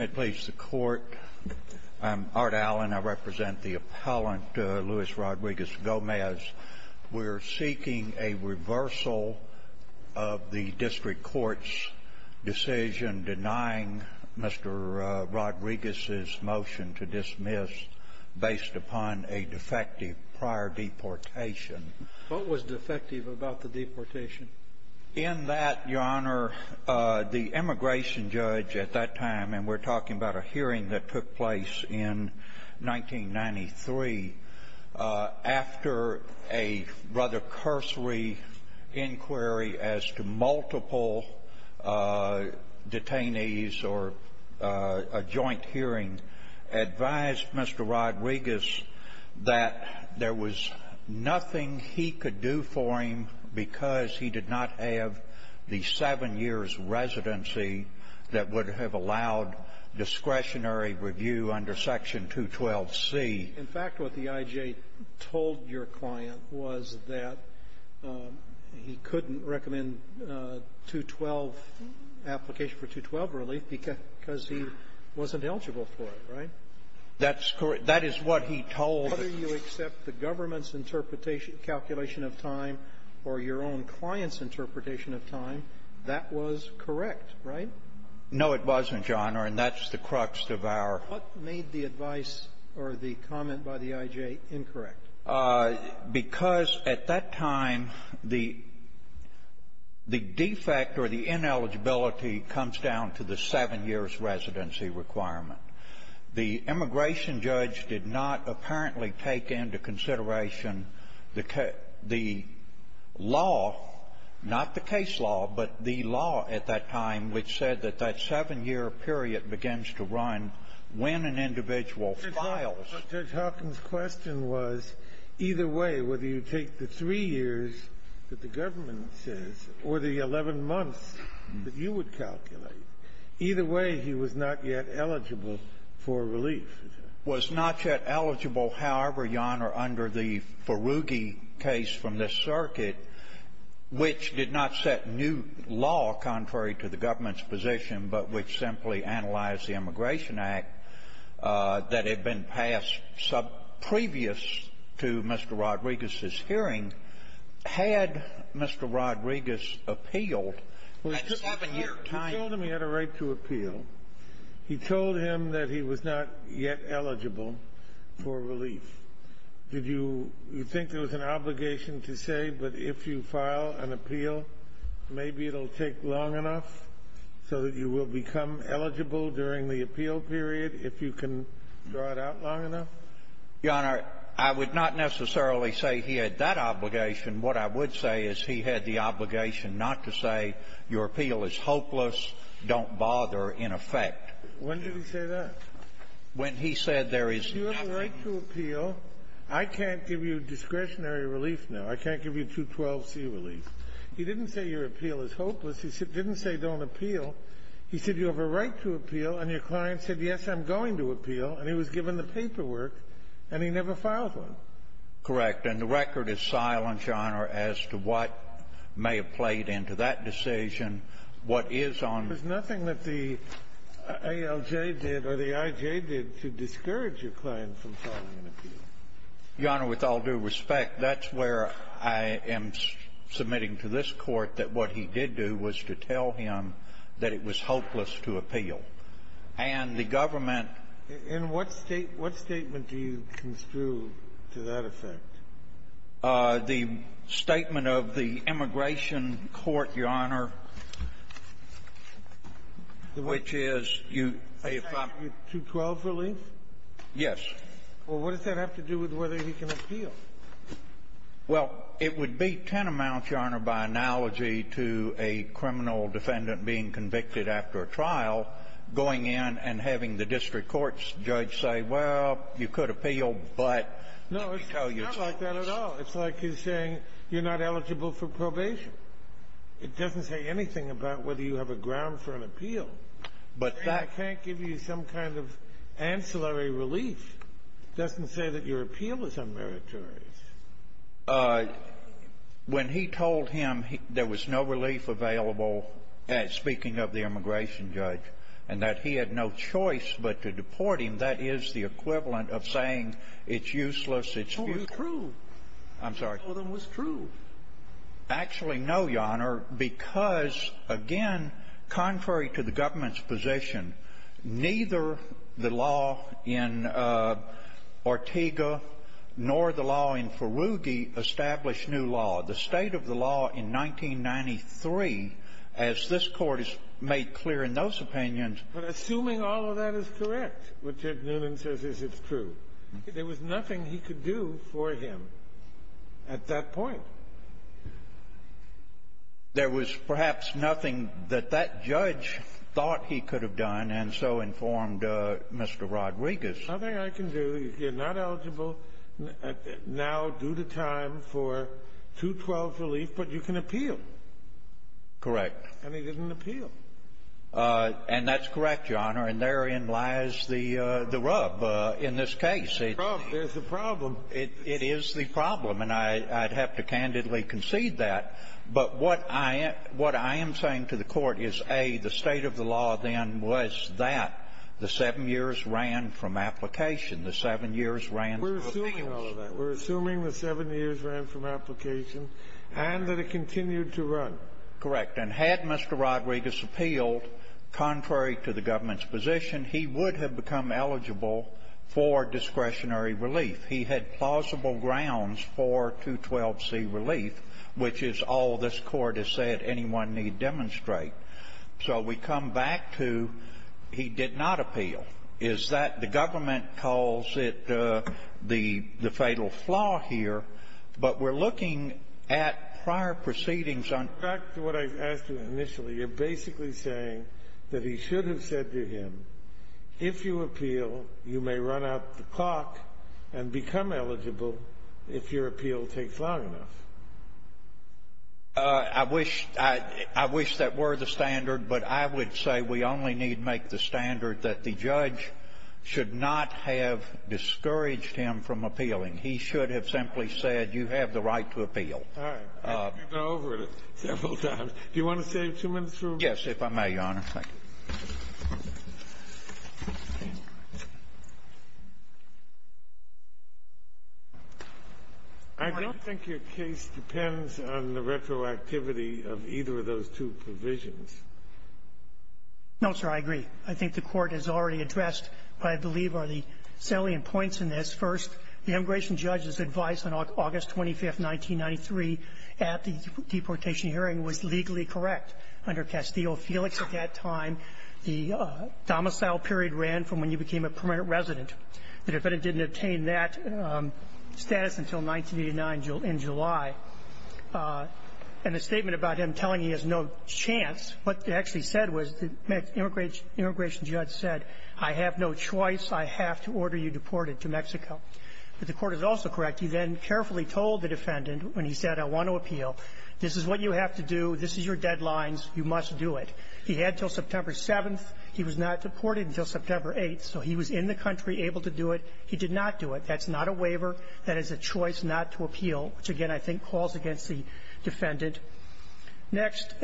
I'm Art Allen. I represent the appellant, Luis Rodriguez-Gomez. We're seeking a reversal of the district court's decision denying Mr. Rodriguez's motion to dismiss based upon a defective prior deportation. What was defective about the deportation? In that, Your Honor, the immigration judge at that time, and we're talking about a hearing that took place in 1993, after a rather cursory inquiry as to multiple detainees or a joint hearing, advised Mr. Rodriguez that there was nothing he could do for him because he did not have a job. He did not have the seven years' residency that would have allowed discretionary review under Section 212c. In fact, what the I.J. told your client was that he couldn't recommend 212, application for 212 relief, because he wasn't eligible for it, right? That's correct. That is what he told. Whether you accept the government's interpretation, calculation of time or your own client's interpretation of time, that was correct, right? No, it wasn't, Your Honor, and that's the crux of our ---- What made the advice or the comment by the I.J. incorrect? Because at that time, the defect or the ineligibility comes down to the seven years' residency requirement. The immigration judge did not apparently take into consideration the law, not the case law, but the law at that time, which said that that seven-year period begins to run when an individual files. Judge Hawkins' question was, either way, whether you take the three years that the government says or the 11 months that you would calculate, either way, he would say that he was not yet eligible for relief. Was not yet eligible, however, Your Honor, under the Feruggi case from this circuit, which did not set new law contrary to the government's position, but which simply analyzed the Immigration Act that had been passed subprevious to Mr. Rodriguez's hearing, had Mr. Rodriguez appealed at seven years' time? He told him he had a right to appeal. He told him that he was not yet eligible for relief. Did you think there was an obligation to say, but if you file an appeal, maybe it'll take long enough so that you will become eligible during the appeal period if you can draw it out long enough? Your Honor, I would not necessarily say he had that obligation. What I would say is he had the obligation not to say, your appeal is hopeless, don't bother, in effect. When did he say that? When he said there is nothing you can do. If you have a right to appeal, I can't give you discretionary relief now. I can't give you 212C relief. He didn't say your appeal is hopeless. He didn't say don't appeal. He said you have a right to appeal, and your client said, yes, I'm going to appeal, and he was given the paperwork, and he never filed one. Correct. And the record is silent, Your Honor, as to what may have played into that decision. What is on the record is silent, Your Honor, as to what may have played into that decision. There's nothing that the ALJ did or the IJ did to discourage your client from filing an appeal. Your Honor, with all due respect, that's where I am submitting to this Court that what he did do was to tell him that it was hopeless to appeal. And the government — In what state — what statement do you construe to that effect? The statement of the immigration court, Your Honor, which is you — Is that your 212 relief? Yes. Well, what does that have to do with whether he can appeal? Well, it would be tantamount, Your Honor, by analogy to a criminal defendant being convicted after a trial, going in and having the district court's judge say, well, you could appeal, but let me tell you — No, it's not like that at all. It's like you're saying you're not eligible for probation. It doesn't say anything about whether you have a ground for an appeal. But that — I mean, I can't give you some kind of ancillary relief. It doesn't say that your appeal is unmeritorious. When he told him there was no relief available, speaking of the immigration judge, and that he had no choice but to deport him, that is the equivalent of saying it's useless, it's futile. Well, it was true. I'm sorry. Well, it was true. Actually, no, Your Honor, because, again, contrary to the government's position, neither the law in Ortega nor the law in Feruge established new law. The state of the law in 1993, as this Court has made clear in those opinions — But assuming all of that is correct, what Judge Newman says is it's true, there was nothing he could do for him at that point. There was perhaps nothing that that judge thought he could have done, and so informed Mr. Rodriguez. The only thing I can do, you're not eligible now due to time for 212's relief, but you can appeal. Correct. And he didn't appeal. And that's correct, Your Honor. And therein lies the rub in this case. The rub is the problem. It is the problem. And I'd have to candidly concede that. But what I am saying to the Court is, A, the state of the law then was that the seven years ran from application, the seven years ran from appeals. We're assuming the seven years ran from application, and that it continued to run. Correct. And had Mr. Rodriguez appealed, contrary to the government's position, he would have become eligible for discretionary relief. He had plausible grounds for 212c relief, which is all this Court has said anyone need demonstrate. So we come back to he did not appeal. Is that the government calls it the fatal flaw here, but we're looking at prior proceedings on the court. Back to what I asked you initially. You're basically saying that he should have said to him, if you appeal, you may run out the clock and become eligible if your appeal takes long enough. I wish that were the standard, but I would say we only need make the standard that the judge should not have discouraged him from appealing. He should have simply said, you have the right to appeal. All right. You've gone over it several times. Do you want to save two minutes for a rebuttal? Yes, if I may, Your Honor. Thank you. I don't think your case depends on the retroactivity of either of those two provisions. No, sir, I agree. I think the Court has already addressed what I believe are the salient points in this. First, the immigration judge's advice on August 25th, 1993, at the deportation hearing, was legally correct under Castillo-Felix at that time. The domicile period ran from when you became a permanent resident. The defendant didn't obtain that status until 1989 in July. And the statement about him telling he has no chance, what it actually said was the immigration judge said, I have no choice, I have to order you deported to Mexico. But the Court is also correct. He then carefully told the defendant, when he said, I want to appeal, this is what you have to do, this is your deadlines, you must do it. He had until September 7th. He was not deported until September 8th. So he was in the country, able to do it. He did not do it. That's not a waiver. That is a choice not to appeal, which, again, I think calls against the defendant. Next,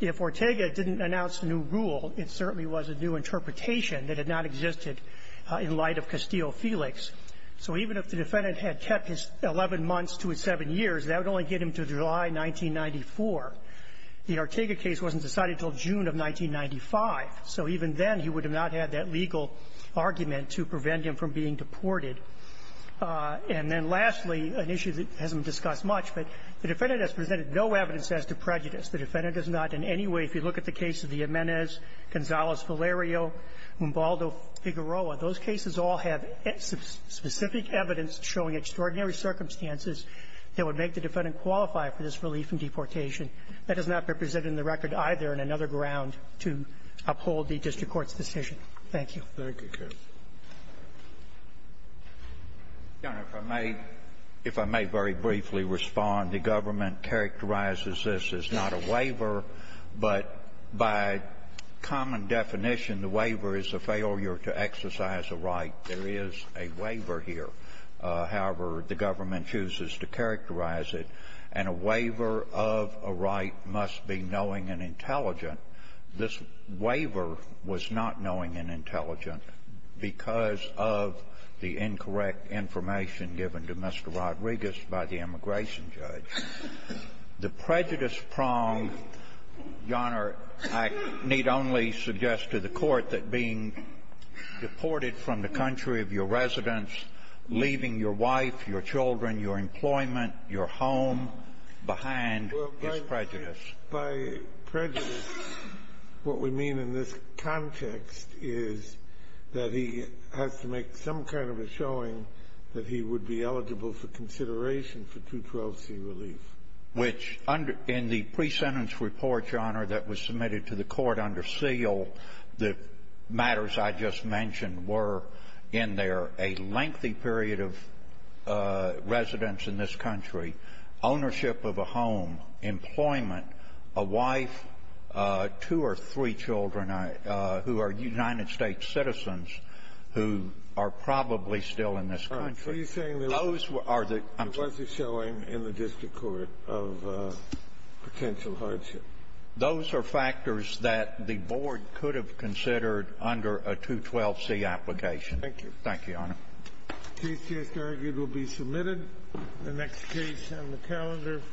if Ortega didn't announce a new rule, it certainly was a new interpretation that had not existed in light of Castillo-Felix. So even if the defendant had kept his 11 months to his 7 years, that would only get him to July 1994. The Ortega case wasn't decided until June of 1995. So even then, he would have not had that legal argument to prevent him from being deported. And then lastly, an issue that hasn't been discussed much, but the defendant has presented no evidence as to prejudice. The defendant does not in any way, if you look at the case of Jimenez, Gonzalez-Valerio, Mumbaldo-Figueroa, those cases all have specific evidence showing extraordinary circumstances that would make the defendant qualify for this relief in deportation. That has not been presented in the record either in another ground to uphold the district court's decision. Thank you. Scalia. Thank you, Judge. Your Honor, if I may, if I may very briefly respond, the government characterizes this as not a waiver, but by common definition, the waiver is a failure to exercise a right. There is a waiver here. However, the government chooses to characterize it. And a waiver of a right must be knowing and intelligent. This waiver was not knowing and intelligent because of the incorrect information given to Mr. Rodriguez by the immigration judge. The prejudice-prong, Your Honor, I need only suggest to the Court that being deported from the country of your residence, leaving your wife, your children, your employment, your home behind is prejudice. Well, by prejudice, what we mean in this context is that he has to make some kind of a showing that he would be eligible for consideration for 212C relief. Which, in the pre-sentence report, Your Honor, that was submitted to the Court under a lengthy period of residence in this country, ownership of a home, employment, a wife, two or three children who are United States citizens who are probably still in this country. Are you saying there was a showing in the district court of potential hardship? Those are factors that the Board could have considered under a 212C application. Thank you. Thank you, Your Honor. The case is argued will be submitted. The next case on the calendar for